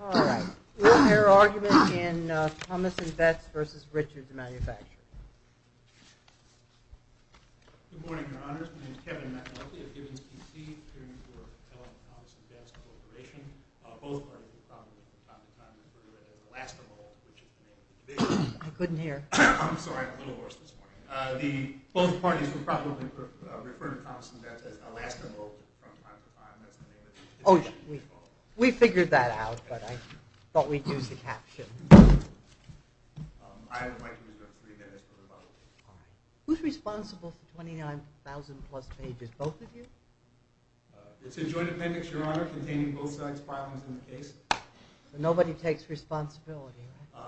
All right. We'll hear arguments in Thomas & Betts v. Richards Manufacturing. Good morning, Your Honors. My name is Kevin McAuley of Gibbons, D.C. appearing before Helen & Thomas & Betts Corporation. Both parties were probably, from time to time, referred to as Elastomo, which is the name of the division. I couldn't hear. I'm sorry. I'm a little hoarse this morning. Both parties were probably referred to Thomas & Betts as Elastomo from time to time. We figured that out, but I thought we'd use the captions. Who's responsible for 29,000-plus pages? Both of you? Nobody takes responsibility, right?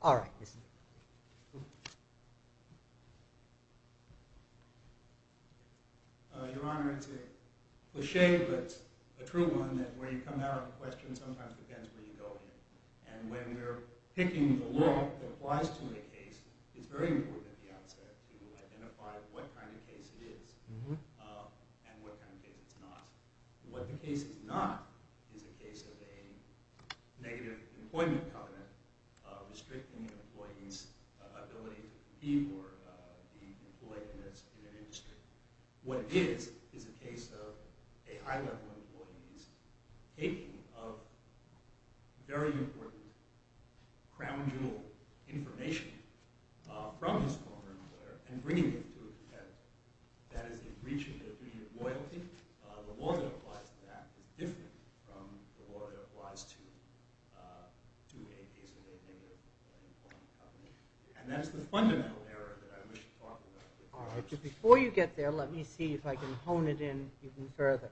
All right. Your Honor, it's a cliche, but a true one, that where you come out of a question sometimes depends where you go in it. And when we're picking the law that applies to a case, it's very important at the outset to identify what kind of case it is and what kind of case it's not. What the case is not is a case of a negative employment covenant restricting an employee's ability to be or be employed in an industry. What it is is a case of a high-level employee's taking of very important, crown-jewel information from his former employer and bringing it to a defense. That is a breach of the duty of loyalty. The law that applies to that is different from the law that applies to a case of a negative employment covenant. And that's the fundamental error that I wish to talk about. Before you get there, let me see if I can hone it in even further.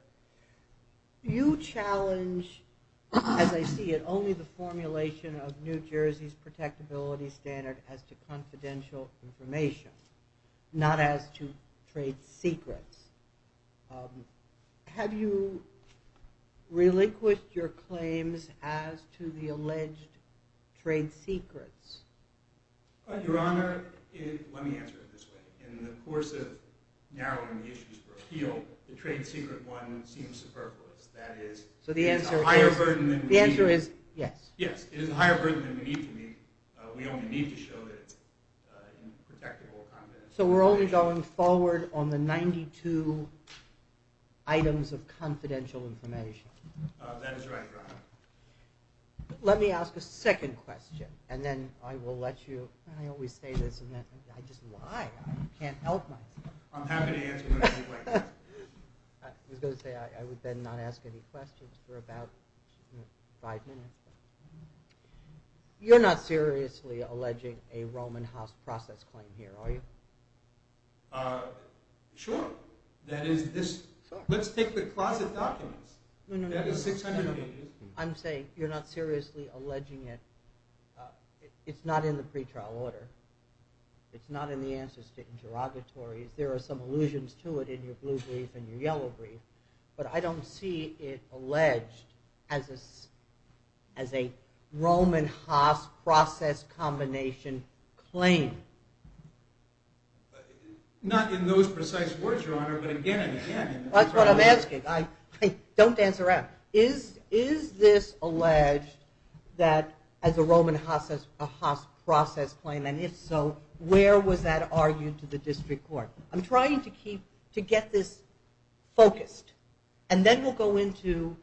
You challenge, as I see it, only the formulation of New Jersey's protectability standard as to confidential information, not as to trade secrets. Have you relinquished your claims as to the alleged trade secrets? Your Honor, let me answer it this way. In the course of narrowing the issues for appeal, the trade secret one seems superfluous. That is, it is a higher burden than we need to be. Yes, it is a higher burden than we need to be. We only need to show that it's protectable confidential information. So we're only going forward on the 92 items of confidential information. That is right, Your Honor. Let me ask a second question. And then I will let you… I always say this and then I just lie. I can't help myself. I'm happy to answer whatever you'd like to ask. I was going to say I would then not ask any questions for about five minutes. You're not seriously alleging a Roman house process claim here, are you? Sure. That is, let's take the closet documents. That is 600 pages. I'm saying you're not seriously alleging it. It's not in the pretrial order. It's not in the answers to interrogatories. There are some allusions to it in your blue brief and your yellow brief. But I don't see it alleged as a Roman house process combination claim. Not in those precise words, Your Honor, but again and again. That's what I'm asking. Don't dance around. Is this alleged as a Roman house process claim? And if so, where was that argued to the district court? I'm trying to get this focused. And then we'll go into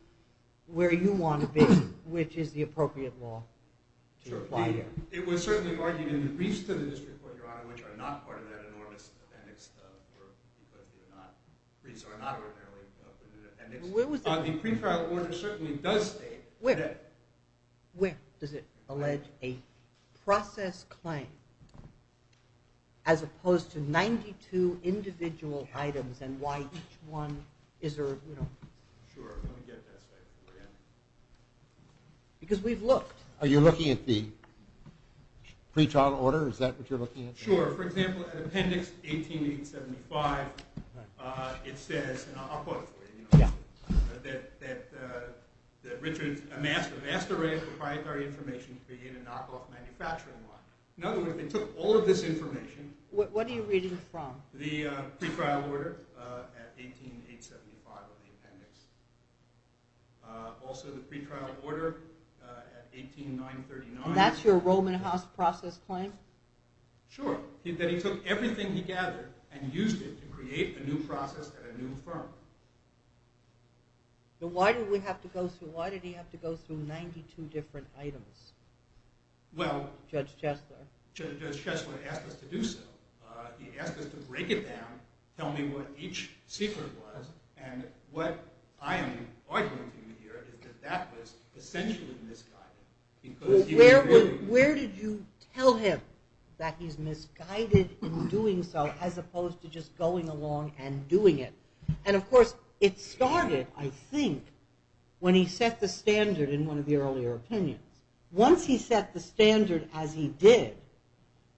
where you want to be, which is the appropriate law. Which are not part of that enormous appendix. The pretrial order certainly does state that. Where does it allege a process claim as opposed to 92 individual items and why each one is there? Sure. Because we've looked. Are you looking at the pretrial order? Is that what you're looking at? Sure. For example, at appendix 18875, it says, and I'll quote it for you, that Richard amassed a vast array of proprietary information to begin a knockoff manufacturing line. In other words, they took all of this information. What are you reading from? The pretrial order at 18875 of the appendix. Also the pretrial order at 18939. And that's your Roman House process claim? Sure. That he took everything he gathered and used it to create a new process at a new firm. Why did he have to go through 92 different items, Judge Chesler? Judge Chesler asked us to do so. He asked us to break it down, tell me what each secret was, and what I am arguing to you here is that that was essentially misguided. Where did you tell him that he's misguided in doing so as opposed to just going along and doing it? And, of course, it started, I think, when he set the standard in one of the earlier opinions. Once he set the standard as he did,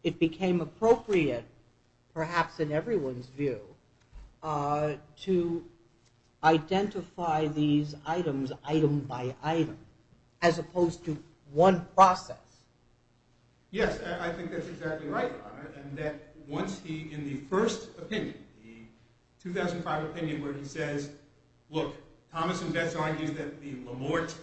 it became appropriate, perhaps in everyone's view, to identify these items item by item as opposed to one process. Yes, I think that's exactly right, Honor, and that once he, in the first opinion, the 2005 opinion, where he says, look, Thomas and Betts argue that the Lamorte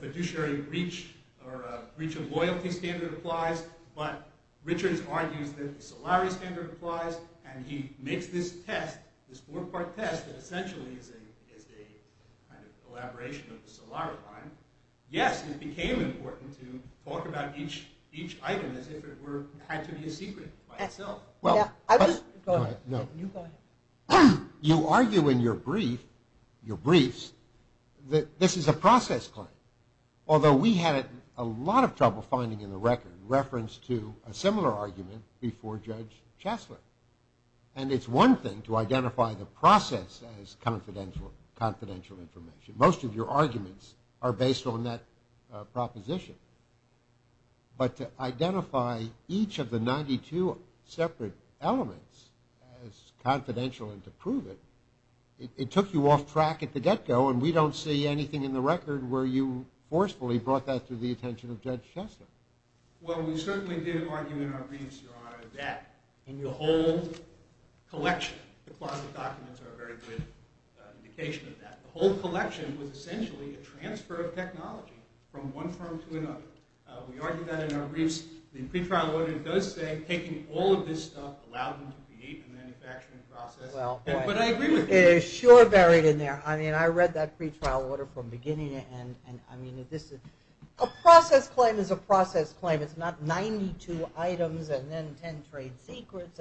fiduciary breach or breach of loyalty standard applies, but Richards argues that the Solari standard applies, and he makes this test, this four-part test, that essentially is a kind of elaboration of the Solari line. Yes, it became important to talk about each item as if it had to be a secret by itself. Well, you argue in your briefs that this is a process claim, although we had a lot of trouble finding in the record reference to a similar argument before Judge Chastler, and it's one thing to identify the process as confidential information. Most of your arguments are based on that proposition, but to identify each of the 92 separate elements as confidential and to prove it, it took you off track at the get-go, and we don't see anything in the record where you forcefully brought that to the attention of Judge Chastler. In your whole collection, the closet documents are a very good indication of that. The whole collection was essentially a transfer of technology from one firm to another. We argue that in our briefs. The pretrial order does say taking all of this stuff, allow them to create a manufacturing process, but I agree with you. It is sure buried in there. I mean, I read that pretrial order from beginning to end, and I mean, a process claim is a process claim. It's not 92 items and then 10 trade secrets.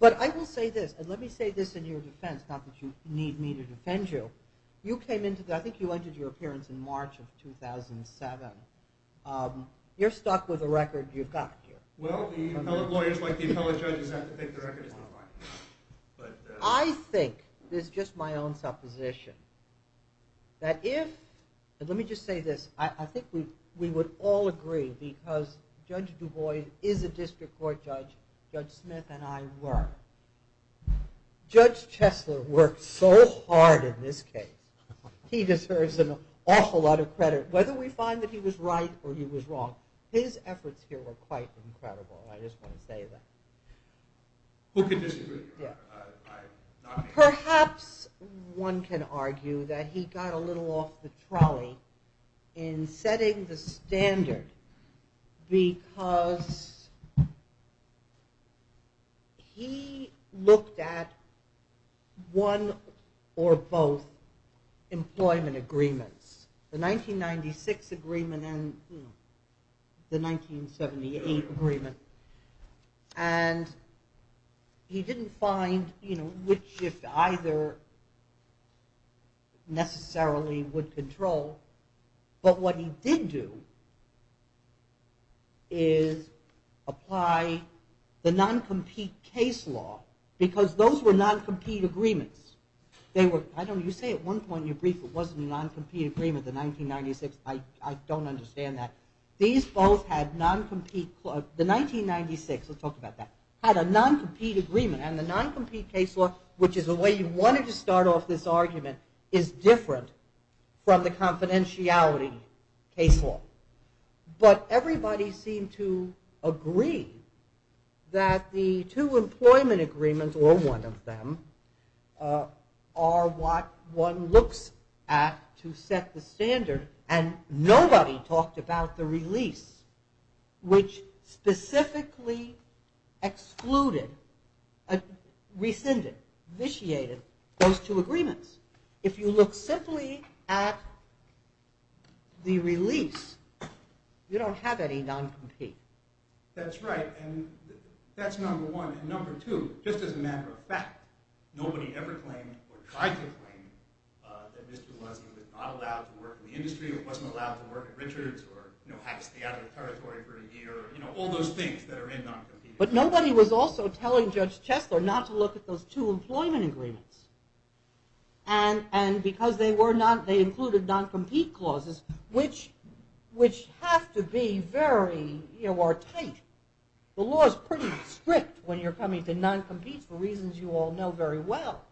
But I will say this, and let me say this in your defense, not that you need me to defend you. You came into the, I think you entered your appearance in March of 2007. You're stuck with a record you've got here. Well, the appellate lawyers, like the appellate judges, have to think the record is not mine. I think, this is just my own supposition, that if, and let me just say this. I think we would all agree because Judge Du Bois is a district court judge. Judge Smith and I were. Judge Chesler worked so hard in this case. He deserves an awful lot of credit. Whether we find that he was right or he was wrong, his efforts here were quite incredible. I just want to say that. Who can disagree with you? Perhaps one can argue that he got a little off the trolley in setting the standard because he looked at one or both employment agreements. The 1996 agreement and the 1978 agreement. And he didn't find which, if either, necessarily would control. But what he did do is apply the non-compete case law because those were non-compete agreements. You say at one point in your brief it wasn't a non-compete agreement, the 1996. I don't understand that. These both had non-compete, the 1996, let's talk about that, had a non-compete agreement. And the non-compete case law, which is the way you wanted to start off this argument, is different from the confidentiality case law. But everybody seemed to agree that the two employment agreements, or one of them, are what one looks at to set the standard. And nobody talked about the release, which specifically excluded, rescinded, vitiated those two agreements. If you look simply at the release, you don't have any non-compete. That's right, and that's number one. And number two, just as a matter of fact, nobody ever claimed, or tried to claim, that Mr. Leslie was not allowed to work in the industry, or wasn't allowed to work at Richards, or had to stay out of the territory for a year, all those things that are in non-compete. But nobody was also telling Judge Chesler not to look at those two employment agreements. And because they included non-compete clauses, which have to be very tight. The law is pretty strict when you're coming to non-compete for reasons you all know very well,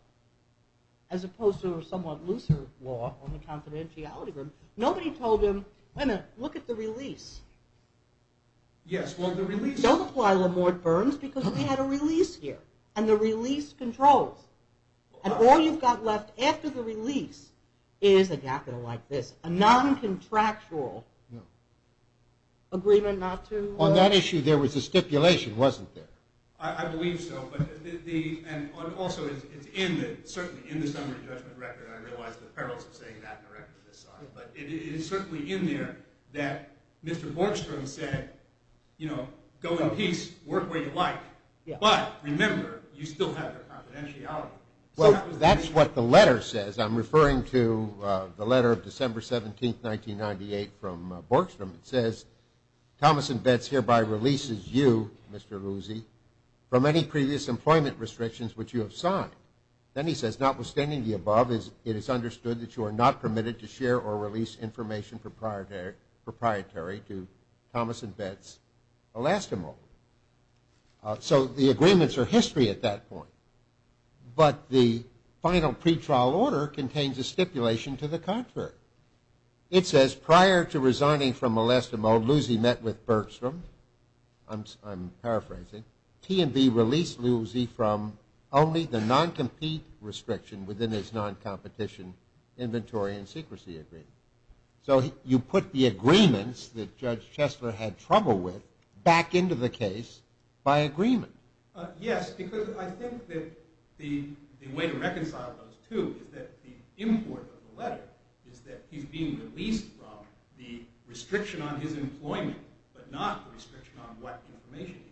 as opposed to a somewhat looser law on the confidentiality group. Nobody told him, wait a minute, look at the release. Yes, well, the release... Don't apply LeMoyne-Burns, because we had a release here, and the release controls. And all you've got left after the release is a gap like this, a non-contractual agreement not to... On that issue, there was a stipulation, wasn't there? I believe so. And also, it's in the summary judgment record, and I realize the perils of saying that in a record this size, but it is certainly in there that Mr. Borgstrom said, you know, go in peace, work where you like, but remember, you still have your confidentiality. Well, that's what the letter says. I'm referring to the letter of December 17, 1998, from Borgstrom. It says, Thomas and Betts hereby releases you, Mr. Lusey, from any previous employment restrictions which you have signed. Then he says, notwithstanding the above, it is understood that you are not permitted to share or release information proprietary to Thomas and Betts' elastomode. So the agreements are history at that point, but the final pretrial order contains a stipulation to the contrary. It says, prior to resigning from elastomode, Lusey met with Borgstrom. I'm paraphrasing. T&B released Lusey from only the non-compete restriction within his non-competition inventory and secrecy agreement. So you put the agreements that Judge Chesler had trouble with back into the case by agreement. Yes, because I think that the way to reconcile those two is that the import of the letter is that he's being released from the restriction on his employment, but not the restriction on what information.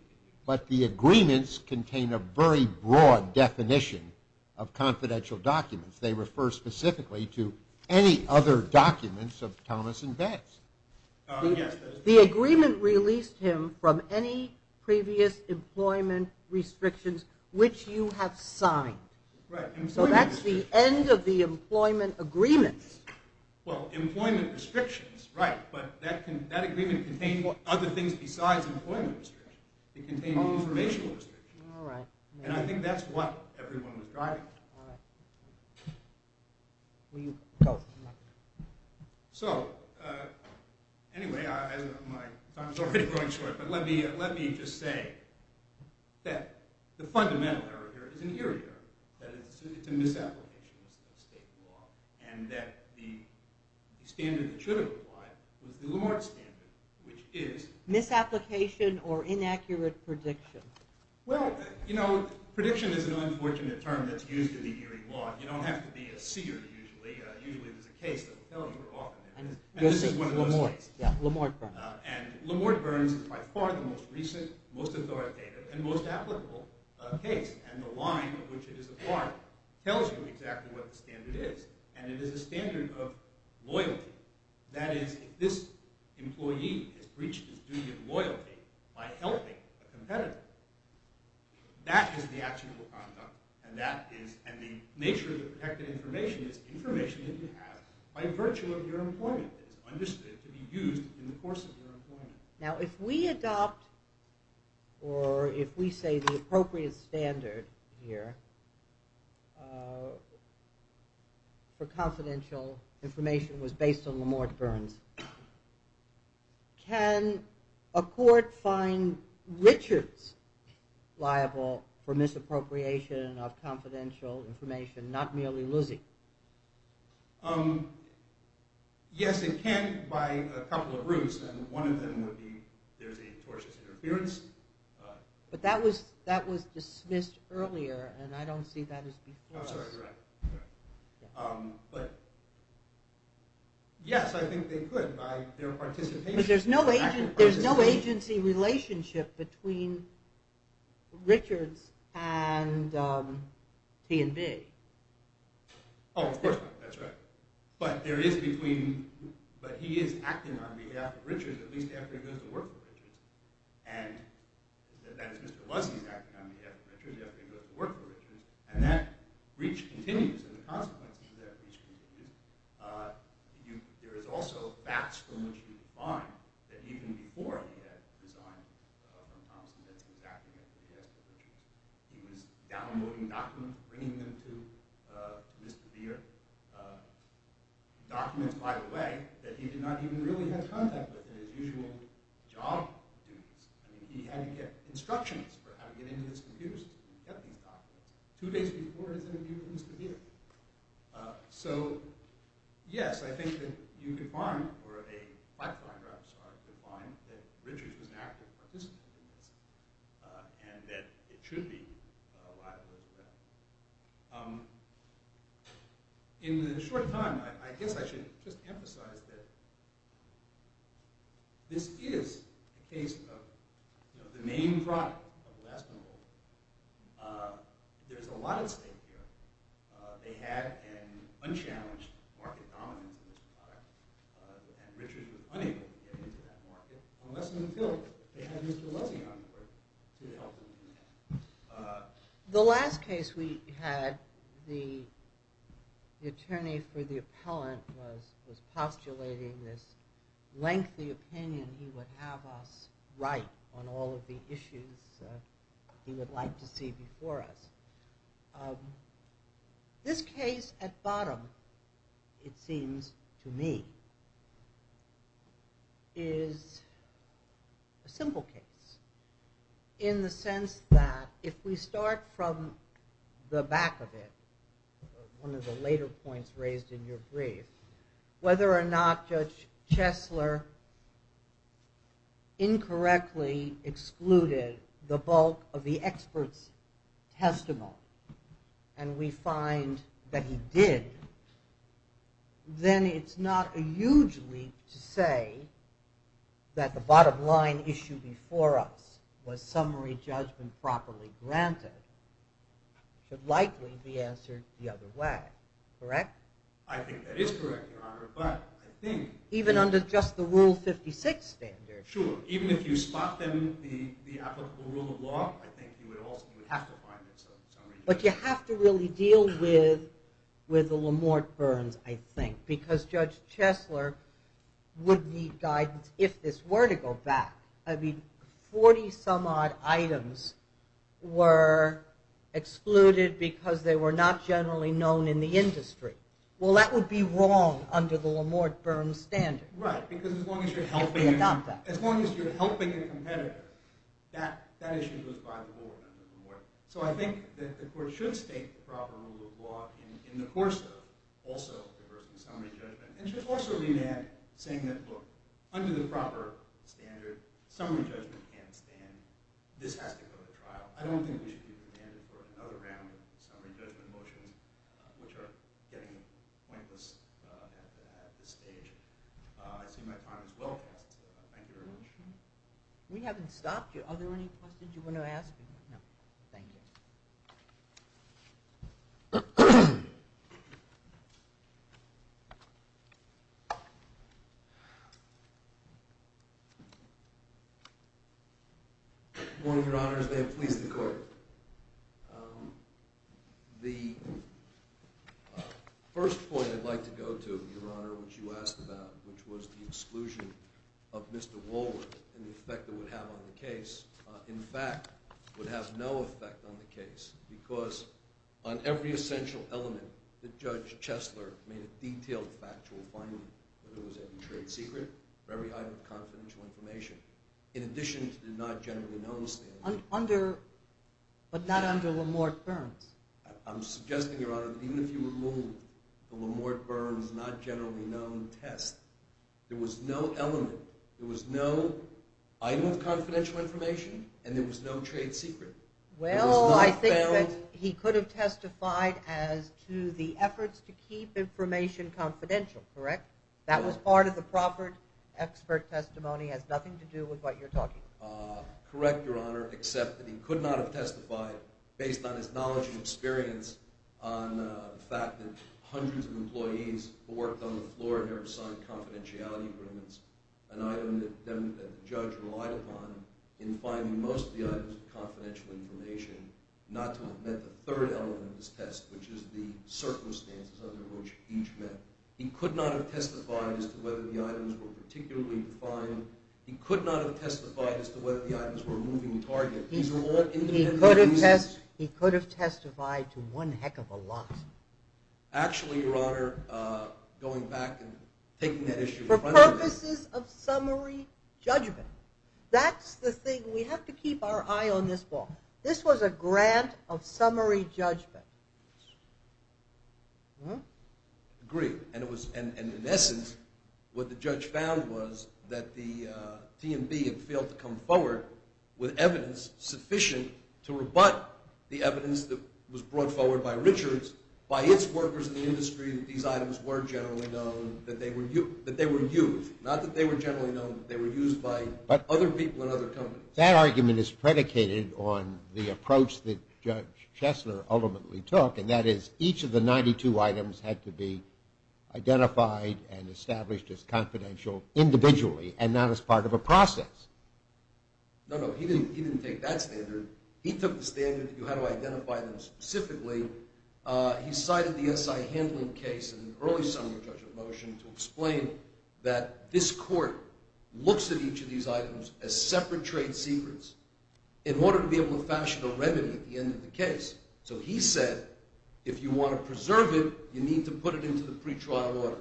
But the agreements contain a very broad definition of confidential documents. They refer specifically to any other documents of Thomas and Betts. The agreement released him from any previous employment restrictions which you have signed. So that's the end of the employment agreements. Well, employment restrictions, right, but that agreement contained other things besides employment restrictions. It contained informational restrictions. All right. And I think that's what everyone was driving at. All right. Will you close? So anyway, my time is already running short, but let me just say that the fundamental error here is an eerie error, that it's a misapplication of state law, and that the standard that should apply was the Lamarck standard, which is? Misapplication or inaccurate prediction. Well, you know, prediction is an unfortunate term that's used in the eerie law. You don't have to be a seer usually. Usually there's a case that will tell you off. And this is one of those cases. Yeah, Lamarck Burns. And Lamarck Burns is by far the most recent, most authoritative, and most applicable case, and the line of which it is applied tells you exactly what the standard is. And it is a standard of loyalty. That is, if this employee has breached his duty of loyalty by helping a competitor, that is the actual conduct, and the nature of the protected information is information that you have by virtue of your employment that is understood to be used in the course of your employment. Now, if we adopt or if we say the appropriate standard here for confidential information was based on Lamarck Burns, can a court find Richards liable for misappropriation of confidential information, not merely Luszi? One of them would be there's a tortious interference. But that was dismissed earlier, and I don't see that as before. Oh, sorry. But yes, I think they could by their participation. But there's no agency relationship between Richards and P&B. Oh, of course not. That's right. But there is between – but he is acting on behalf of Richards at least after he goes to work for Richards. And that is, Mr. Luszi is acting on behalf of Richards after he goes to work for Richards, and that breach continues and the consequences of that breach continue. There is also facts from which you can find that even before he had resigned from Thomson that he was acting after Richards. He was downloading documents, bringing them to Mr. Beer. Documents, by the way, that he did not even really have contact with in his usual job duties. I mean, he had to get instructions for how to get into his computers to get these documents. Two days before his interview with Mr. Beer. So yes, I think that you could find, or a pipeline driver could find, that Richards was an active participant in this and that it should be a liability to that. In the short time, I guess I should just emphasize that this is a case of the main product of the last monopoly. There's a lot at stake here. They had an unchallenged market dominance in this product, and Richards was unable to get into that market unless he was filled with it. They had Mr. Leslie on board to help him in that. The last case we had, the attorney for the appellant was postulating this lengthy opinion he would have us write on all of the issues he would like to see before us. This case, at bottom, it seems to me, is a simple case in the sense that if we start from the back of it, one of the later points raised in your brief, whether or not Judge Chesler incorrectly excluded the bulk of the expert's testimony, and we find that he did, then it's not a huge leap to say that the bottom line issue before us was summary judgment properly granted. It would likely be answered the other way. Correct? I think that is correct, Your Honor, but I think... Even under just the Rule 56 standard. Sure, even if you spot them, the applicable rule of law, I think you would have to find the summary judgment. But you have to really deal with the Lamort-Burns, I think, because Judge Chesler would need guidance if this were to go back. I mean, 40-some-odd items were excluded because they were not generally known in the industry. Well, that would be wrong under the Lamort-Burns standard. Right, because as long as you're helping a competitor, that issue goes by the rules of the Lamort-Burns. So I think that the Court should state the proper rule of law in the course of, also, the person's summary judgment, and should also remand saying that, look, under the proper standard, summary judgment can't stand, this has to go to trial. I don't think we should be remanded for another round of summary judgment motions, which are getting pointless at this stage. I see my time is well past, so thank you very much. We haven't stopped you. Are there any questions you want to ask? No, thank you. Your Honor, may it please the Court. The first point I'd like to go to, Your Honor, which you asked about, which was the exclusion of Mr. Woolworth and the effect it would have on the case. In fact, it would have no effect on the case, because on every essential element that Judge Chesler made a detailed factual finding that it was a trade secret for every item of confidential information, in addition to the not generally known standard. But not under Lamort-Burns. I'm suggesting, Your Honor, that even if you removed the Lamort-Burns not generally known test, there was no element, there was no item of confidential information, and there was no trade secret. Well, I think that he could have testified as to the efforts to keep information confidential, correct? That was part of the proper expert testimony. It has nothing to do with what you're talking about. Correct, Your Honor, except that he could not have testified, worked on the floor in order to sign confidentiality agreements, an item that the judge relied upon in finding most of the items of confidential information, not to have met the third element of this test, which is the circumstances under which each met. He could not have testified as to whether the items were particularly defined. He could not have testified as to whether the items were a moving target. These are all individual reasons. He could have testified to one heck of a lot. Actually, Your Honor, going back and taking that issue in front of me. For purposes of summary judgment, that's the thing. We have to keep our eye on this ball. This was a grant of summary judgment. Agreed. And in essence, what the judge found was that the T&B had failed to come forward with evidence sufficient to rebut the evidence that was brought forward by Richards by its workers in the industry that these items were generally known that they were used. Not that they were generally known, but they were used by other people in other companies. That argument is predicated on the approach that Judge Chesler ultimately took, and that is each of the 92 items had to be identified and established as confidential individually and not as part of a process. No, no, he didn't take that standard. He took the standard of how to identify them specifically. He cited the SI handling case in the early summary judgment motion to explain that this court looks at each of these items as separate trade secrets in order to be able to fashion a remedy at the end of the case. So he said, if you want to preserve it, you need to put it into the pretrial order.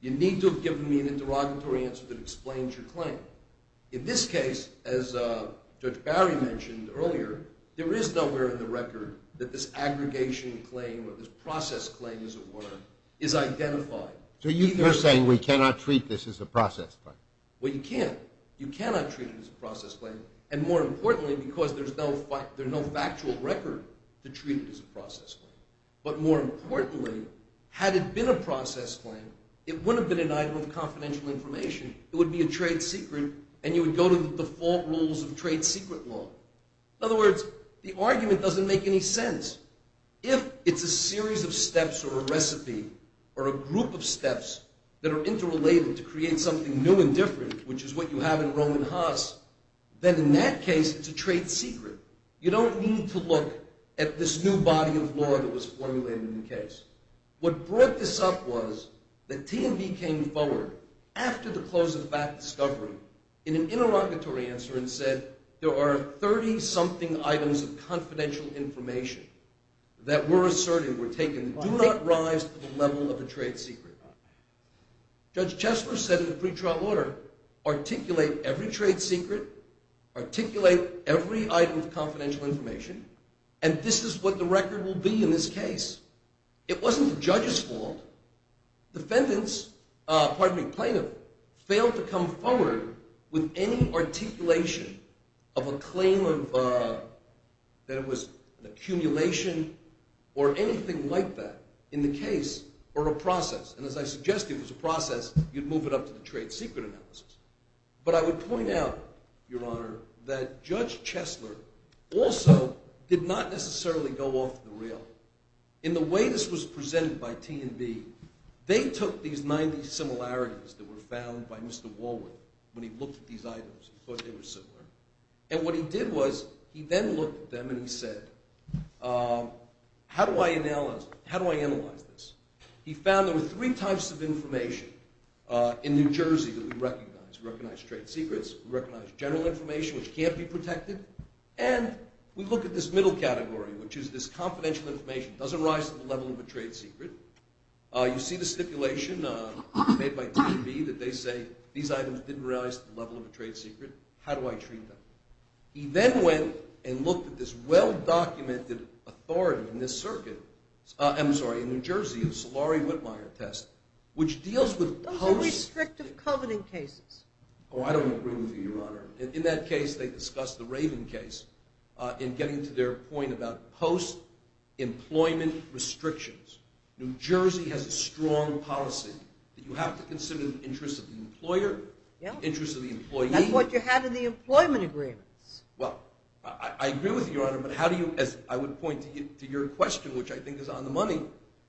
You need to have given me an interrogatory answer that explains your claim. In this case, as Judge Barry mentioned earlier, there is nowhere in the record that this aggregation claim or this process claim as it were is identified. So you're saying we cannot treat this as a process claim? Well, you can't. You cannot treat it as a process claim. And more importantly, because there's no factual record to treat it as a process claim. But more importantly, had it been a process claim, it wouldn't have been an item of confidential information. It would be a trade secret, and you would go to the default rules of trade secret law. In other words, the argument doesn't make any sense. If it's a series of steps or a recipe or a group of steps that are interrelated to create something new and different, which is what you have in Roman Haas, then in that case, it's a trade secret. You don't need to look at this new body of law that was formulated in the case. What brought this up was that T&B came forward after the close of back discovery in an interrogatory answer and said, there are 30-something items of confidential information that we're asserting were taken. Do not rise to the level of a trade secret. Judge Chesler said in the pre-trial order, articulate every trade secret, articulate every item of confidential information, and this is what the record will be in this case. It wasn't the judge's fault. Defendants, pardon me, plaintiff, failed to come forward with any articulation of a claim that it was an accumulation or anything like that in the case or a process, and as I suggested, it was a process. You'd move it up to the trade secret analysis. But I would point out, Your Honor, that Judge Chesler also did not necessarily go off the rail. In the way this was presented by T&B, they took these 90 similarities that were found by Mr. Woolworth when he looked at these items and thought they were similar, and what he did was he then looked at them and he said, how do I analyze this? He found there were three types of information in New Jersey that we recognize. We recognize trade secrets. We recognize general information which can't be protected, and we look at this middle category, which is this confidential information. It doesn't rise to the level of a trade secret. You see the stipulation made by T&B that they say these items didn't rise to the level of a trade secret. How do I treat them? He then went and looked at this well-documented authority in New Jersey, the Solari-Wittmeyer test, which deals with post- Those are restrictive covenant cases. Oh, I don't agree with you, Your Honor. In that case, they discussed the Raven case in getting to their point about post-employment restrictions. New Jersey has a strong policy that you have to consider the interests of the employer, the interests of the employee. That's what you have in the employment agreements. Well, I agree with you, Your Honor, but how do you, as I would point to your question, which I think is on the money,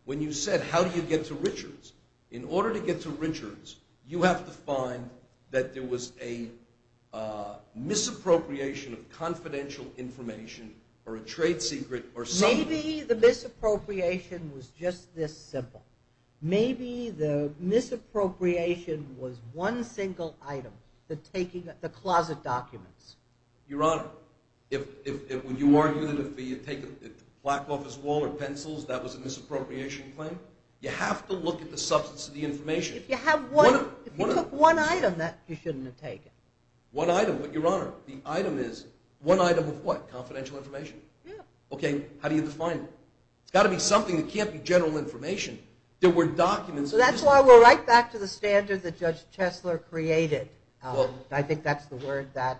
when you said, how do you get to Richards? In order to get to Richards, you have to find that there was a misappropriation of confidential information or a trade secret or something. Maybe the misappropriation was just this simple. Maybe the misappropriation was one single item, the closet documents. Your Honor, would you argue that if you take a black office wall or pencils, that was a misappropriation claim? You have to look at the substance of the information. If you took one item, you shouldn't have taken it. One item, but, Your Honor, the item is one item of what? Confidential information. Yeah. Okay, how do you define it? It's got to be something that can't be general information. There were documents. That's why we're right back to the standard that Judge Chesler created. I think that's the word that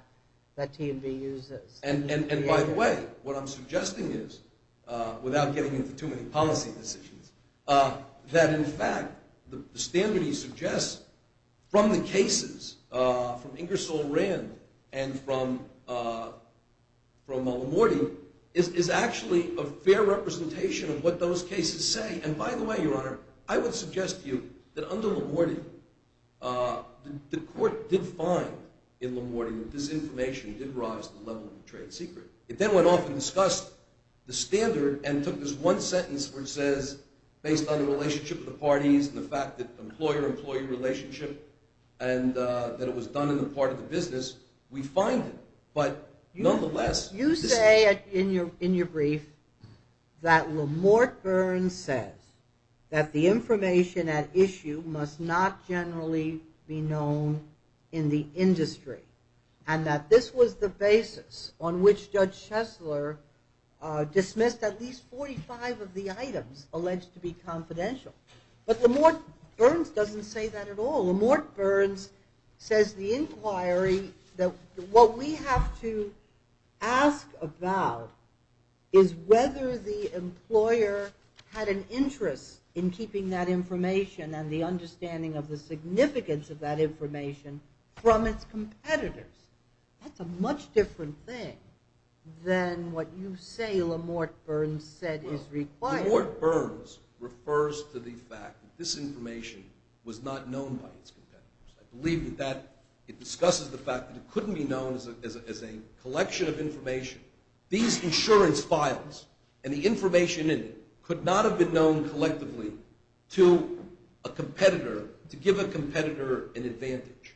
TMB uses. And, by the way, what I'm suggesting is, without getting into too many policy decisions, that, in fact, the standard he suggests from the cases, from Ingersoll Rand and from LaMortie is actually a fair representation of what those cases say. And, by the way, Your Honor, I would suggest to you that under LaMortie, the court did find in LaMortie that this information did rise to the level of a trade secret. It then went off and discussed the standard and took this one sentence where it says, based on the relationship of the parties and the fact that employer-employee relationship and that it was done in the part of the business, we find it. But, nonetheless, this is true. You say in your brief that LaMorte Burns says that the information at issue must not generally be known in the industry and that this was the basis on which Judge Chesler dismissed at least 45 of the items alleged to be confidential. But LaMorte Burns doesn't say that at all. LaMorte Burns says the inquiry that what we have to ask about is whether the employer had an interest in keeping that information and the understanding of the significance of that information from its competitors. That's a much different thing than what you say LaMorte Burns said is required. LaMorte Burns refers to the fact that this information was not known by its competitors. I believe that it discusses the fact that it couldn't be known as a collection of information. These insurance files and the information in it could not have been known collectively to give a competitor an advantage.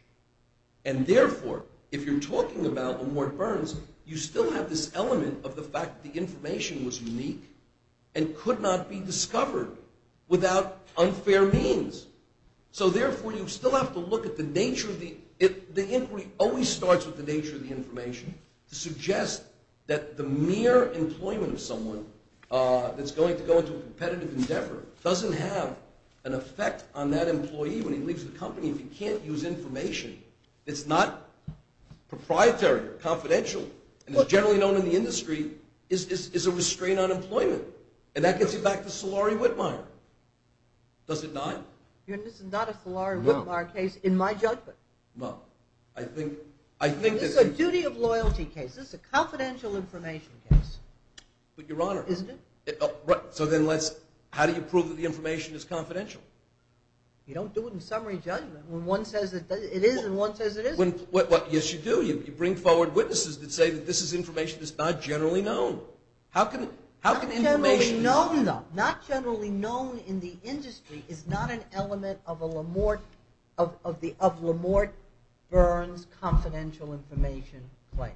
And, therefore, if you're talking about LaMorte Burns, you still have this element of the fact that the information was unique and could not be discovered without unfair means. So, therefore, you still have to look at the nature of the... The inquiry always starts with the nature of the information to suggest that the mere employment of someone that's going to go into a competitive endeavor doesn't have an effect on that employee when he leaves the company if he can't use information. It's not proprietary or confidential. And it's generally known in the industry is a restraint on employment. And that gets you back to Solari-Whitmire. Does it not? This is not a Solari-Whitmire case in my judgment. Well, I think... This is a duty of loyalty case. This is a confidential information case. But, Your Honor... Isn't it? So, then, let's... How do you prove that the information is confidential? You don't do it in summary judgment. One says it is, and one says it isn't. Yes, you do. You bring forward witnesses that say that this information is not generally known. How can information... Not generally known, though. Not generally known in the industry is not an element of a Lamorte Burns confidential information claim.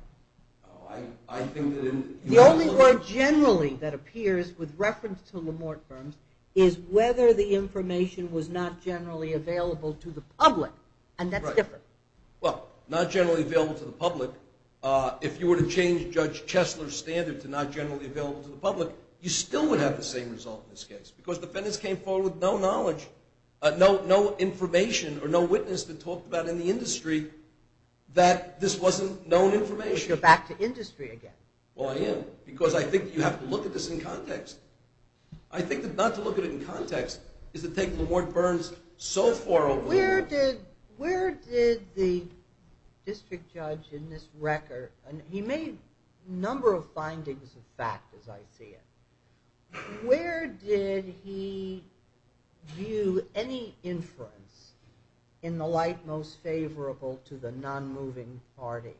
Oh, I think that in... The only word generally that appears with reference to Lamorte Burns is whether the information was not generally available to the public. And that's different. Well, not generally available to the public. If you were to change Judge Chesler's standard to not generally available to the public, you still would have the same result in this case. Because defendants came forward with no knowledge, no information or no witness to talk about in the industry that this wasn't known information. You're back to industry again. Well, I am. Because I think you have to look at this in context. I think that not to look at it in context is to take Lamorte Burns so far over... Where did the district judge in this record... He made a number of findings of fact, as I see it. Where did he view any inference in the light most favorable to the non-moving party?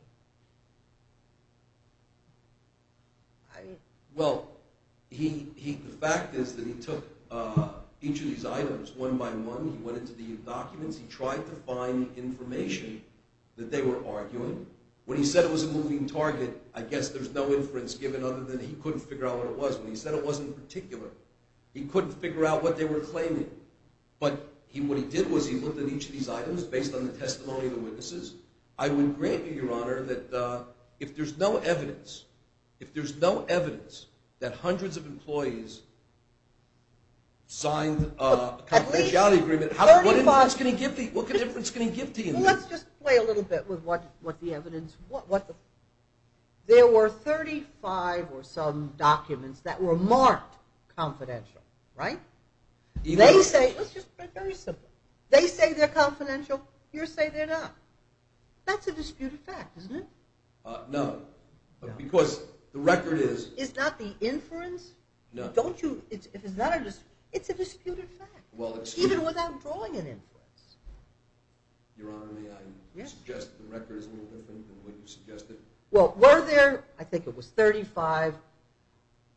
Well, the fact is that he took each of these items one by one. He went into the documents. He tried to find information that they were arguing. When he said it was a moving target, I guess there's no inference given other than he couldn't figure out what it was. When he said it wasn't particular, he couldn't figure out what they were claiming. But what he did was he looked at each of these items based on the testimony of the witnesses. I would grant you, Your Honor, that if there's no evidence, if there's no evidence that hundreds of employees signed a confidentiality agreement, what inference can he give to you? Let's just play a little bit with what the evidence... There were 35 or some documents that were marked confidential, right? Let's just put it very simply. They say they're confidential. You say they're not. That's a disputed fact, isn't it? No, because the record is... It's not the inference? No. Don't you... It's a disputed fact, even without drawing an inference. Your Honor, may I suggest the record is a little different than what you suggested? Well, were there, I think it was 35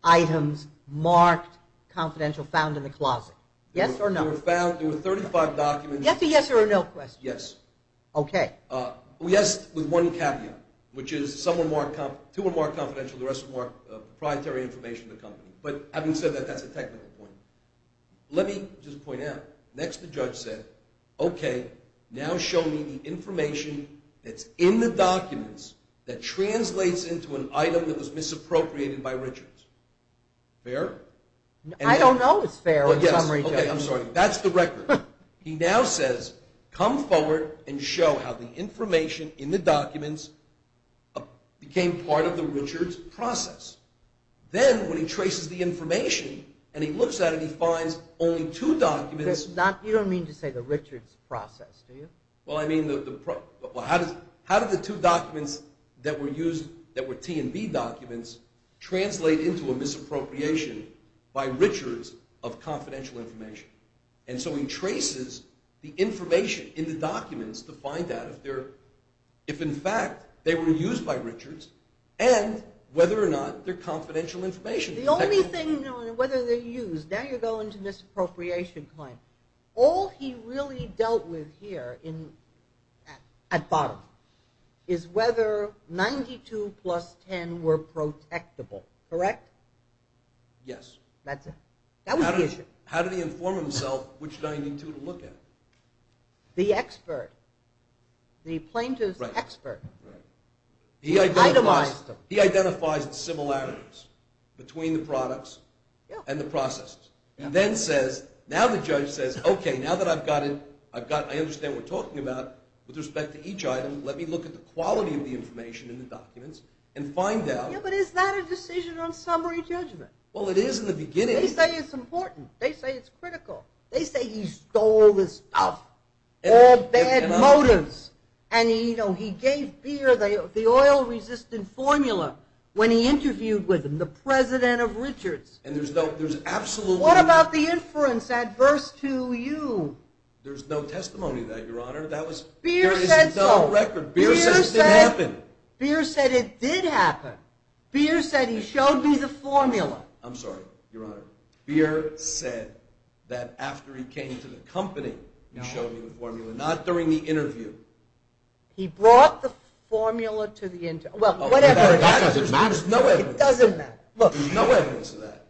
items marked confidential found in the closet? Yes or no? There were 35 documents... You have to yes or a no question. Yes. Okay. Yes, with one caveat, which is two were marked confidential, the rest were marked proprietary information of the company. But having said that, that's a technical point. Let me just point out, next the judge said, okay, now show me the information that's in the documents that translates into an item that was misappropriated by Richards. Fair? I don't know it's fair in some regions. Okay, I'm sorry. That's the record. He now says, come forward and show how the information in the documents became part of the Richards process. Then when he traces the information and he looks at it, he finds only two documents... You don't mean to say the Richards process, do you? Well, I mean the... How did the two documents that were used, that were T&B documents, translate into a misappropriation by Richards of confidential information? And so he traces the information in the documents to find out if in fact they were used by Richards and whether or not they're confidential information. The only thing, whether they're used, now you're going to misappropriation claim. All he really dealt with here at bottom is whether 92 plus 10 were protectable, correct? Yes. That's it. How did he inform himself which 92 to look at? The expert, the plaintiff's expert. He identifies the similarities between the products and the processes. And then says, now the judge says, okay, now that I've got it, I understand what we're talking about, with respect to each item, let me look at the quality of the information in the documents and find out... Yeah, but is that a decision on summary judgment? Well, it is in the beginning. They say it's important. They say it's critical. They say he stole this stuff, all bad motives. And he gave fear the oil-resistant formula when he interviewed with him, the president of Richards. What about the inference adverse to you? There's no testimony to that, Your Honor. Beer said so. There is no record. Beer said it didn't happen. Beer said it did happen. Beer said he showed me the formula. I'm sorry, Your Honor. Beer said that after he came to the company, he showed me the formula, not during the interview. He brought the formula to the interview. That doesn't matter. It doesn't matter. There's no evidence of that.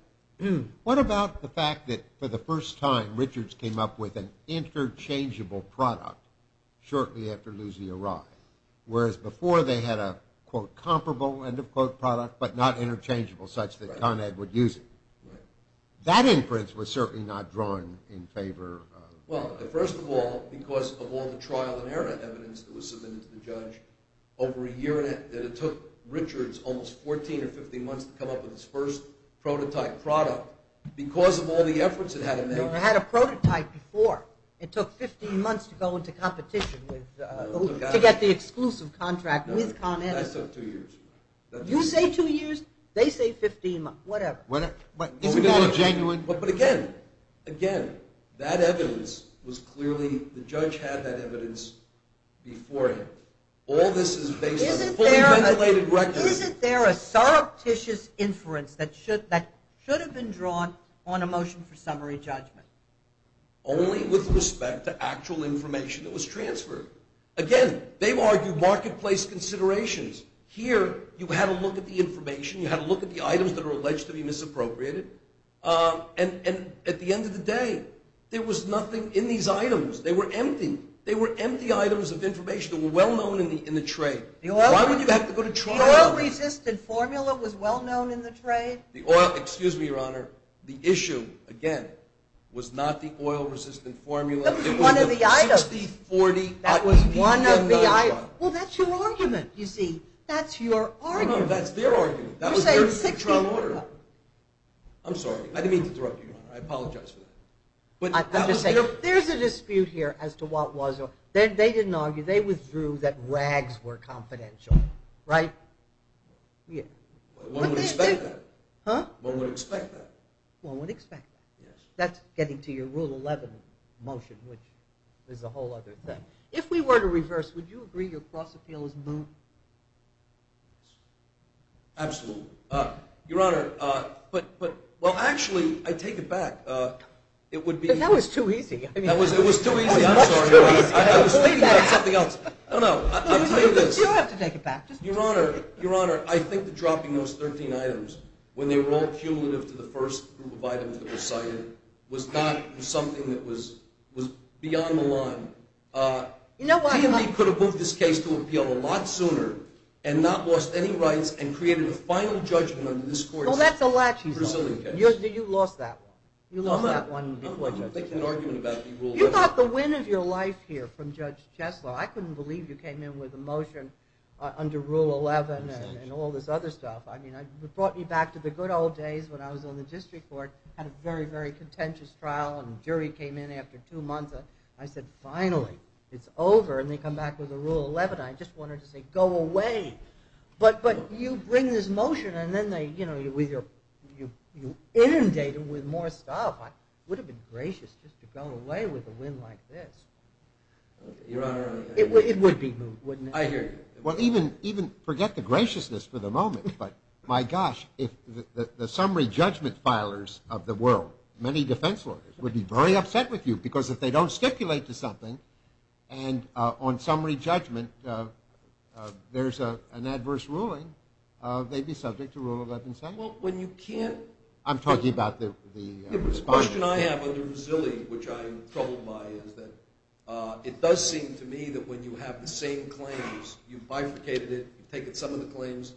What about the fact that, for the first time, Richards came up with an interchangeable product shortly after Luzzi arrived, whereas before they had a, quote, comparable end-of-quote product but not interchangeable such that Con Ed would use it? That inference was certainly not drawn in favor of... Well, first of all, because of all the trial and error evidence that was submitted to the judge, over a year that it took Richards almost 14 or 15 months to come up with his first prototype product, because of all the efforts it had to make... It never had a prototype before. It took 15 months to go into competition to get the exclusive contract with Con Ed. That took two years. You say two years. They say 15 months. Whatever. Isn't that a genuine... But again, again, that evidence was clearly... The judge had that evidence before him. All this is based on fully-ventilated records. Isn't there a surreptitious inference that should have been drawn on a motion for summary judgment? Only with respect to actual information that was transferred. Again, they argue marketplace considerations. Here, you had a look at the information. You had a look at the items that were alleged to be misappropriated. And at the end of the day, there was nothing in these items. They were empty. They were empty items of information that were well-known in the trade. Why would you have to go to trial? The oil-resistant formula was well-known in the trade. The oil... Excuse me, Your Honor. The issue, again, was not the oil-resistant formula. It was the 60-40... That was one of the items. Well, that's your argument, you see. That's your argument. No, that's their argument. That was their trial order. I'm sorry. I didn't mean to interrupt you, Your Honor. I apologize for that. There's a dispute here as to what was or... They didn't argue. They withdrew that rags were confidential, right? One would expect that. Huh? One would expect that. One would expect that. Yes. That's getting to your Rule 11 motion, which is a whole other thing. If we were to reverse, would you agree your cross-appeal is moot? Absolutely. Your Honor, but... Well, actually, I take it back. It would be... That was too easy. It was too easy. I'm sorry, Your Honor. I was thinking about something else. No, no. I'll tell you this. You don't have to take it back. Your Honor, Your Honor, I think the dropping of those 13 items, when they were all cumulative to the first group of items that were cited, was not something that was beyond the line. You know what? D&D could have moved this case to appeal a lot sooner and not lost any rights and created a final judgment under this court's Brazilian case. Well, that's a latches one. You lost that one. You lost that one before, Judge. I'm making an argument about the Rule 11. You got the win of your life here from Judge Chesler. I couldn't believe you came in with a motion under Rule 11 and all this other stuff. I mean, it brought me back to the good old days when I was on the district court, had a very, very contentious trial, and the jury came in after two months. I said, finally, it's over. And they come back with a Rule 11. I just wanted to say, go away. But you bring this motion, and then you inundate it with more stuff. It would have been gracious just to go away with a win like this. It would be moved, wouldn't it? I hear you. Well, even forget the graciousness for the moment. But, my gosh, if the summary judgment filers of the world, many defense lawyers, would be very upset with you because if they don't stipulate to something, and on summary judgment there's an adverse ruling, they'd be subject to Rule 11. Well, when you can't. I'm talking about the response. The question I have on the Brazilian, which I am troubled by, is that it does seem to me that when you have the same claims, you've bifurcated it, you've taken some of the claims,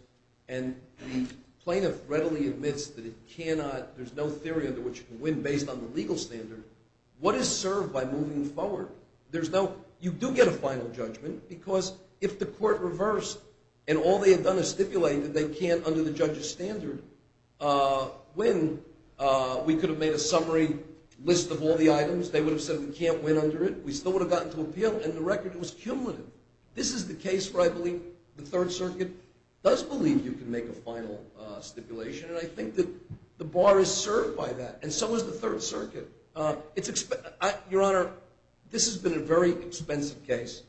and the plaintiff readily admits that it cannot, there's no theory under which you can win based on the legal standard, what is served by moving forward? You do get a final judgment because if the court reversed and all they had done is stipulate that they can't under the judge's standard win, we could have made a summary list of all the items. They would have said we can't win under it. We still would have gotten to appeal, and the record was cumulative. This is the case where I believe the Third Circuit does believe you can make a final stipulation, and I think that the bar is served by that, and so is the Third Circuit. Your Honor, this has been a very expensive case,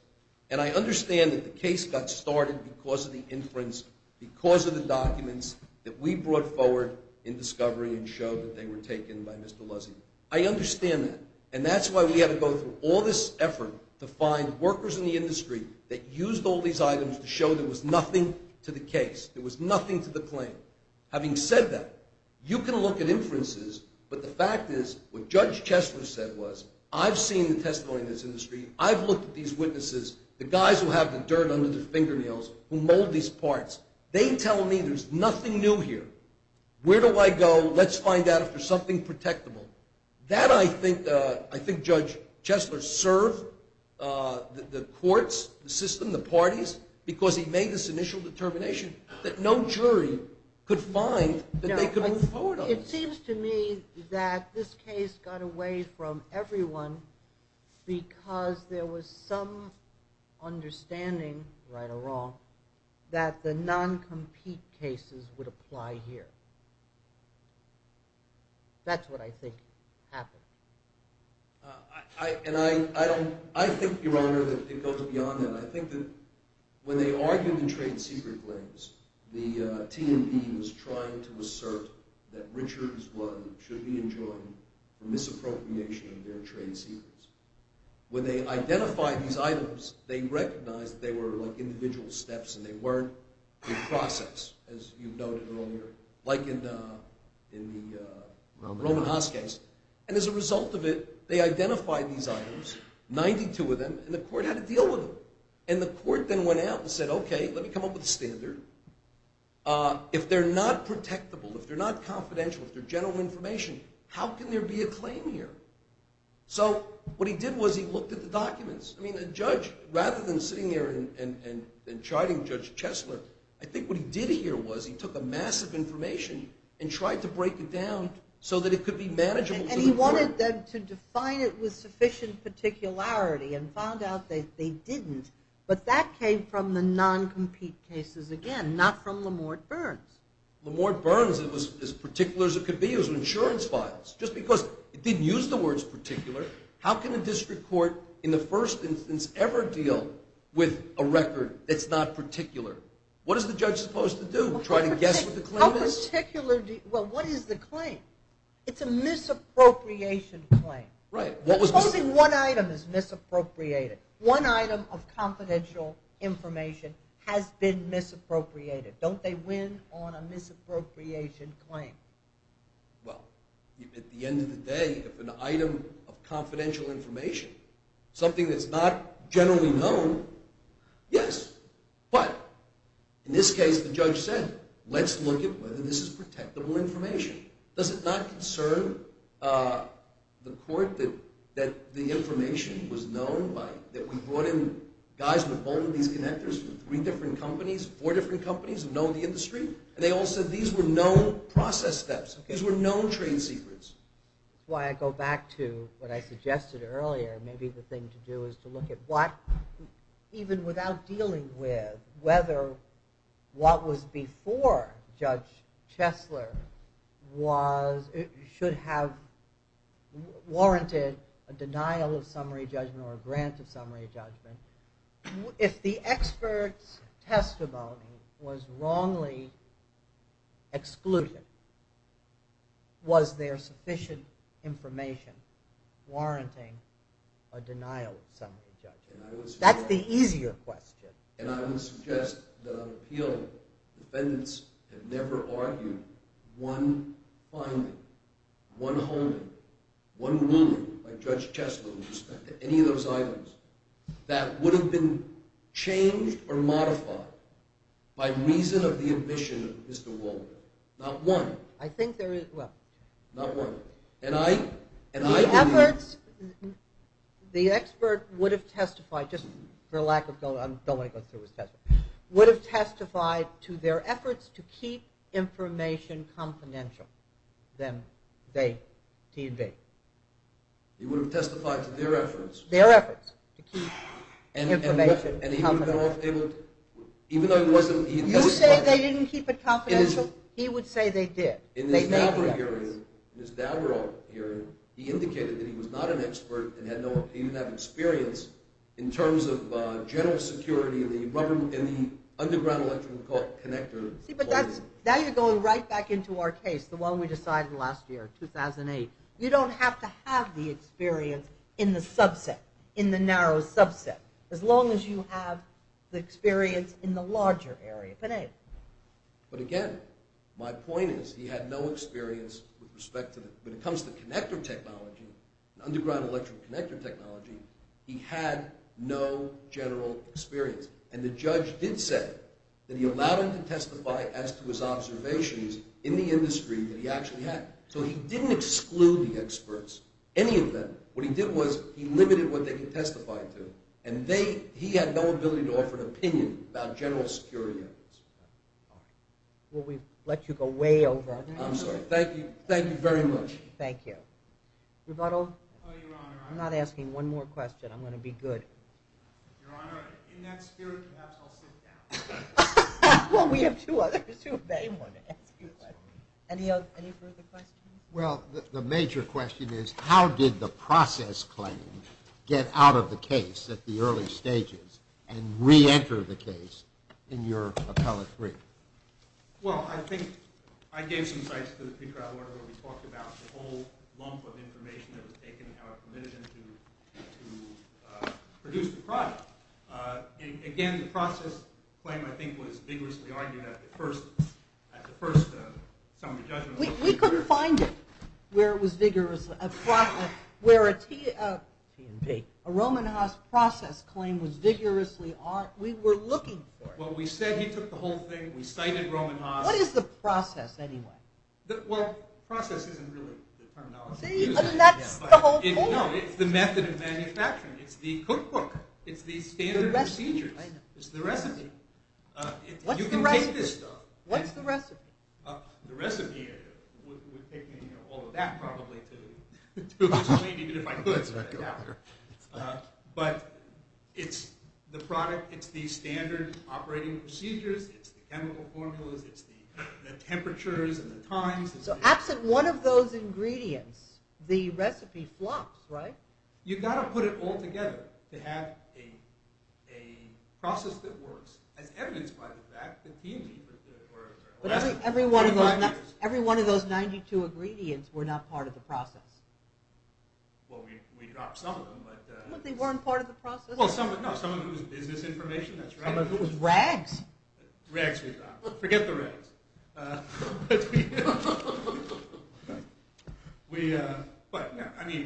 and I understand that the case got started because of the inference, because of the documents that we brought forward in discovery and showed that they were taken by Mr. Luzzi. I understand that, and that's why we had to go through all this effort to find workers in the industry that used all these items to show there was nothing to the case. There was nothing to the claim. Having said that, you can look at inferences, but the fact is what Judge Chesler said was I've seen the testimony in this industry. I've looked at these witnesses, the guys who have the dirt under their fingernails, who mold these parts. They tell me there's nothing new here. Where do I go? Let's find out if there's something protectable. That I think Judge Chesler served the courts, the system, the parties, because he made this initial determination that no jury could find that they could move forward on. It seems to me that this case got away from everyone because there was some understanding, right or wrong, that the non-compete cases would apply here. That's what I think happened. I think, Your Honor, that it goes beyond that. I think that when they argued the trade secret claims, the T&P was trying to assert that Richard's blood should be enjoined for misappropriation of their trade secrets. When they identified these items, they recognized that they were like individual steps and they weren't in process, as you noted earlier. Like in the Roman Haas case. And as a result of it, they identified these items, 92 of them, and the court had to deal with them. And the court then went out and said, okay, let me come up with a standard. If they're not protectable, if they're not confidential, if they're general information, how can there be a claim here? So what he did was he looked at the documents. I mean, a judge, rather than sitting there and chiding Judge Chesler, I think what he did here was he took a mass of information and tried to break it down so that it could be manageable to the court. And he wanted them to define it with sufficient particularity and found out that they didn't. But that came from the non-compete cases again, not from Lamorte Burns. Lamorte Burns, it was as particular as it could be. It was insurance files. Just because it didn't use the words particular, how can a district court in the first instance ever deal with a record that's not particular? What is the judge supposed to do? Try to guess what the claim is? Well, what is the claim? It's a misappropriation claim. Right. Supposing one item is misappropriated. One item of confidential information has been misappropriated. Don't they win on a misappropriation claim? Well, at the end of the day, if an item of confidential information, something that's not generally known, yes. But in this case, the judge said, let's look at whether this is protectable information. Does it not concern the court that the information was known, that we brought in guys with all of these connectors from three different companies, four different companies who know the industry, and they all said these were known process steps. These were known trade secrets. That's why I go back to what I suggested earlier. Maybe the thing to do is to look at what, even without dealing with whether what was before Judge Chesler should have warranted a denial of summary judgment or a grant of summary judgment. If the expert's testimony was wrongly excluded, was there sufficient information warranting a denial of summary judgment? That's the easier question. And I would suggest that on appeal, defendants have never argued one finding, one holding, one ruling by Judge Chesler with respect to any of those items, that would have been changed or modified by reason of the admission of Mr. Walden. Not one. I think there is, well... Not one. And I... The efforts, the expert would have testified, just for lack of, I don't want to go through his testimony, would have testified to their efforts to keep information confidential, them, they, TV. He would have testified to their efforts. Their efforts to keep information confidential. Even though he wasn't... You say they didn't keep it confidential, he would say they did. In his Dowderall hearing, he indicated that he was not an expert and he didn't have experience in terms of general security in the underground electrical connector... See, but that's, now you're going right back into our case, the one we decided last year, 2008. You don't have to have the experience in the subset, in the narrow subset, as long as you have the experience in the larger area. But anyway. But again, my point is, he had no experience with respect to... When it comes to connector technology, underground electrical connector technology, he had no general experience. And the judge did say that he allowed him to testify as to his observations in the industry that he actually had. So he didn't exclude the experts. Any of them. What he did was, he limited what they could testify to. And they, he had no ability to offer an opinion about general security efforts. Well, we've let you go way over... I'm sorry. Thank you. Thank you very much. Thank you. Rebuttal? I'm not asking one more question. I'm going to be good. Your Honor, in that spirit, perhaps I'll sit down. Well, we have two others who may want to ask you a question. Any further questions? Well, the major question is, how did the process claim get out of the case at the early stages and reenter the case in your appellate brief? Well, I think I gave some insights to the pre-trial order where we talked about the whole lump of information that was taken and how it permitted them to produce the product. And again, the process claim, I think, was vigorously argued at the first summary judgment. We couldn't find it where it was vigorously, where a Roman Haas process claim was vigorously argued. We were looking for it. Well, we said he took the whole thing. We cited Roman Haas. What is the process, anyway? Well, process isn't really the terminology. See, that's the whole point. No, it's the method of manufacturing. It's the cookbook. It's the standard procedures. It's the recipe. You can take this stuff. What's the recipe? The recipe would take me all of that probably to explain, even if I could. But it's the product. It's the standard operating procedures. It's the chemical formulas. It's the temperatures and the times. So absent one of those ingredients, the recipe flops, right? You've got to put it all together to have a process that works, as evidenced by the fact that B&E or Alessio. Every one of those 92 ingredients were not part of the process. Well, we dropped some of them. But they weren't part of the process. No, some of it was business information. That's right. Rags we dropped. Forget the rags. But, you know, I mean,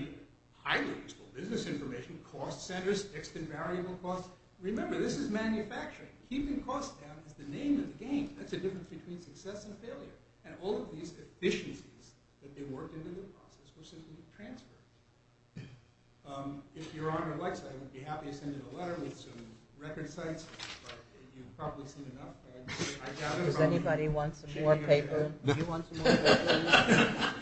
highly useful business information, cost centers, fixed and variable costs. Remember, this is manufacturing. Keeping costs down is the name of the game. That's the difference between success and failure. And all of these efficiencies that they worked into the process were simply transferred. If Your Honor likes that, I would be happy to send you a letter with some record sites. But you've probably seen enough. Does anybody want some more paper? You want some more paper?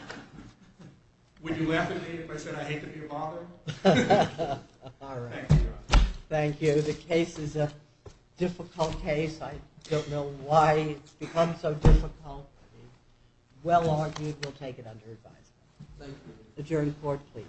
Would you laugh at me if I said I hate to be a father? All right. Thank you, Your Honor. Thank you. The case is a difficult case. I don't know why it's become so difficult. Well argued. We'll take it under advisement. Thank you. Adjourn the Court, please.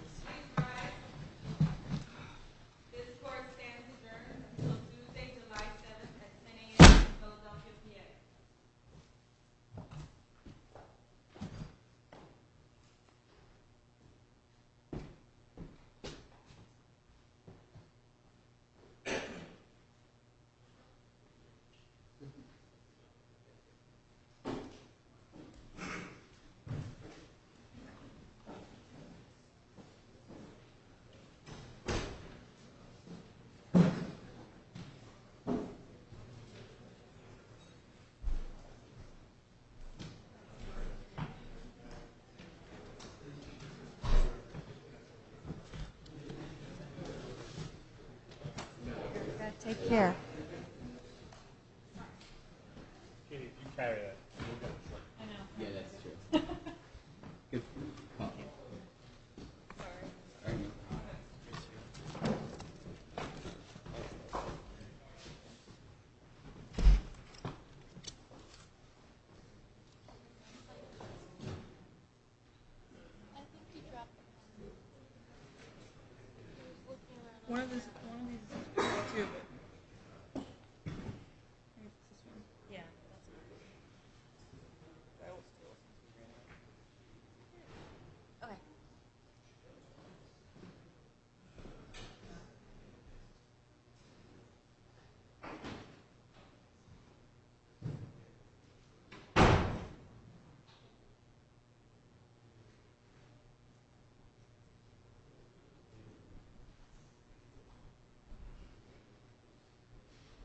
Thank you, Your Honor. This Court stands adjourned until Tuesday, July 7, at 10 a.m. The Court is adjourned. Take care. Thank you. Thank you.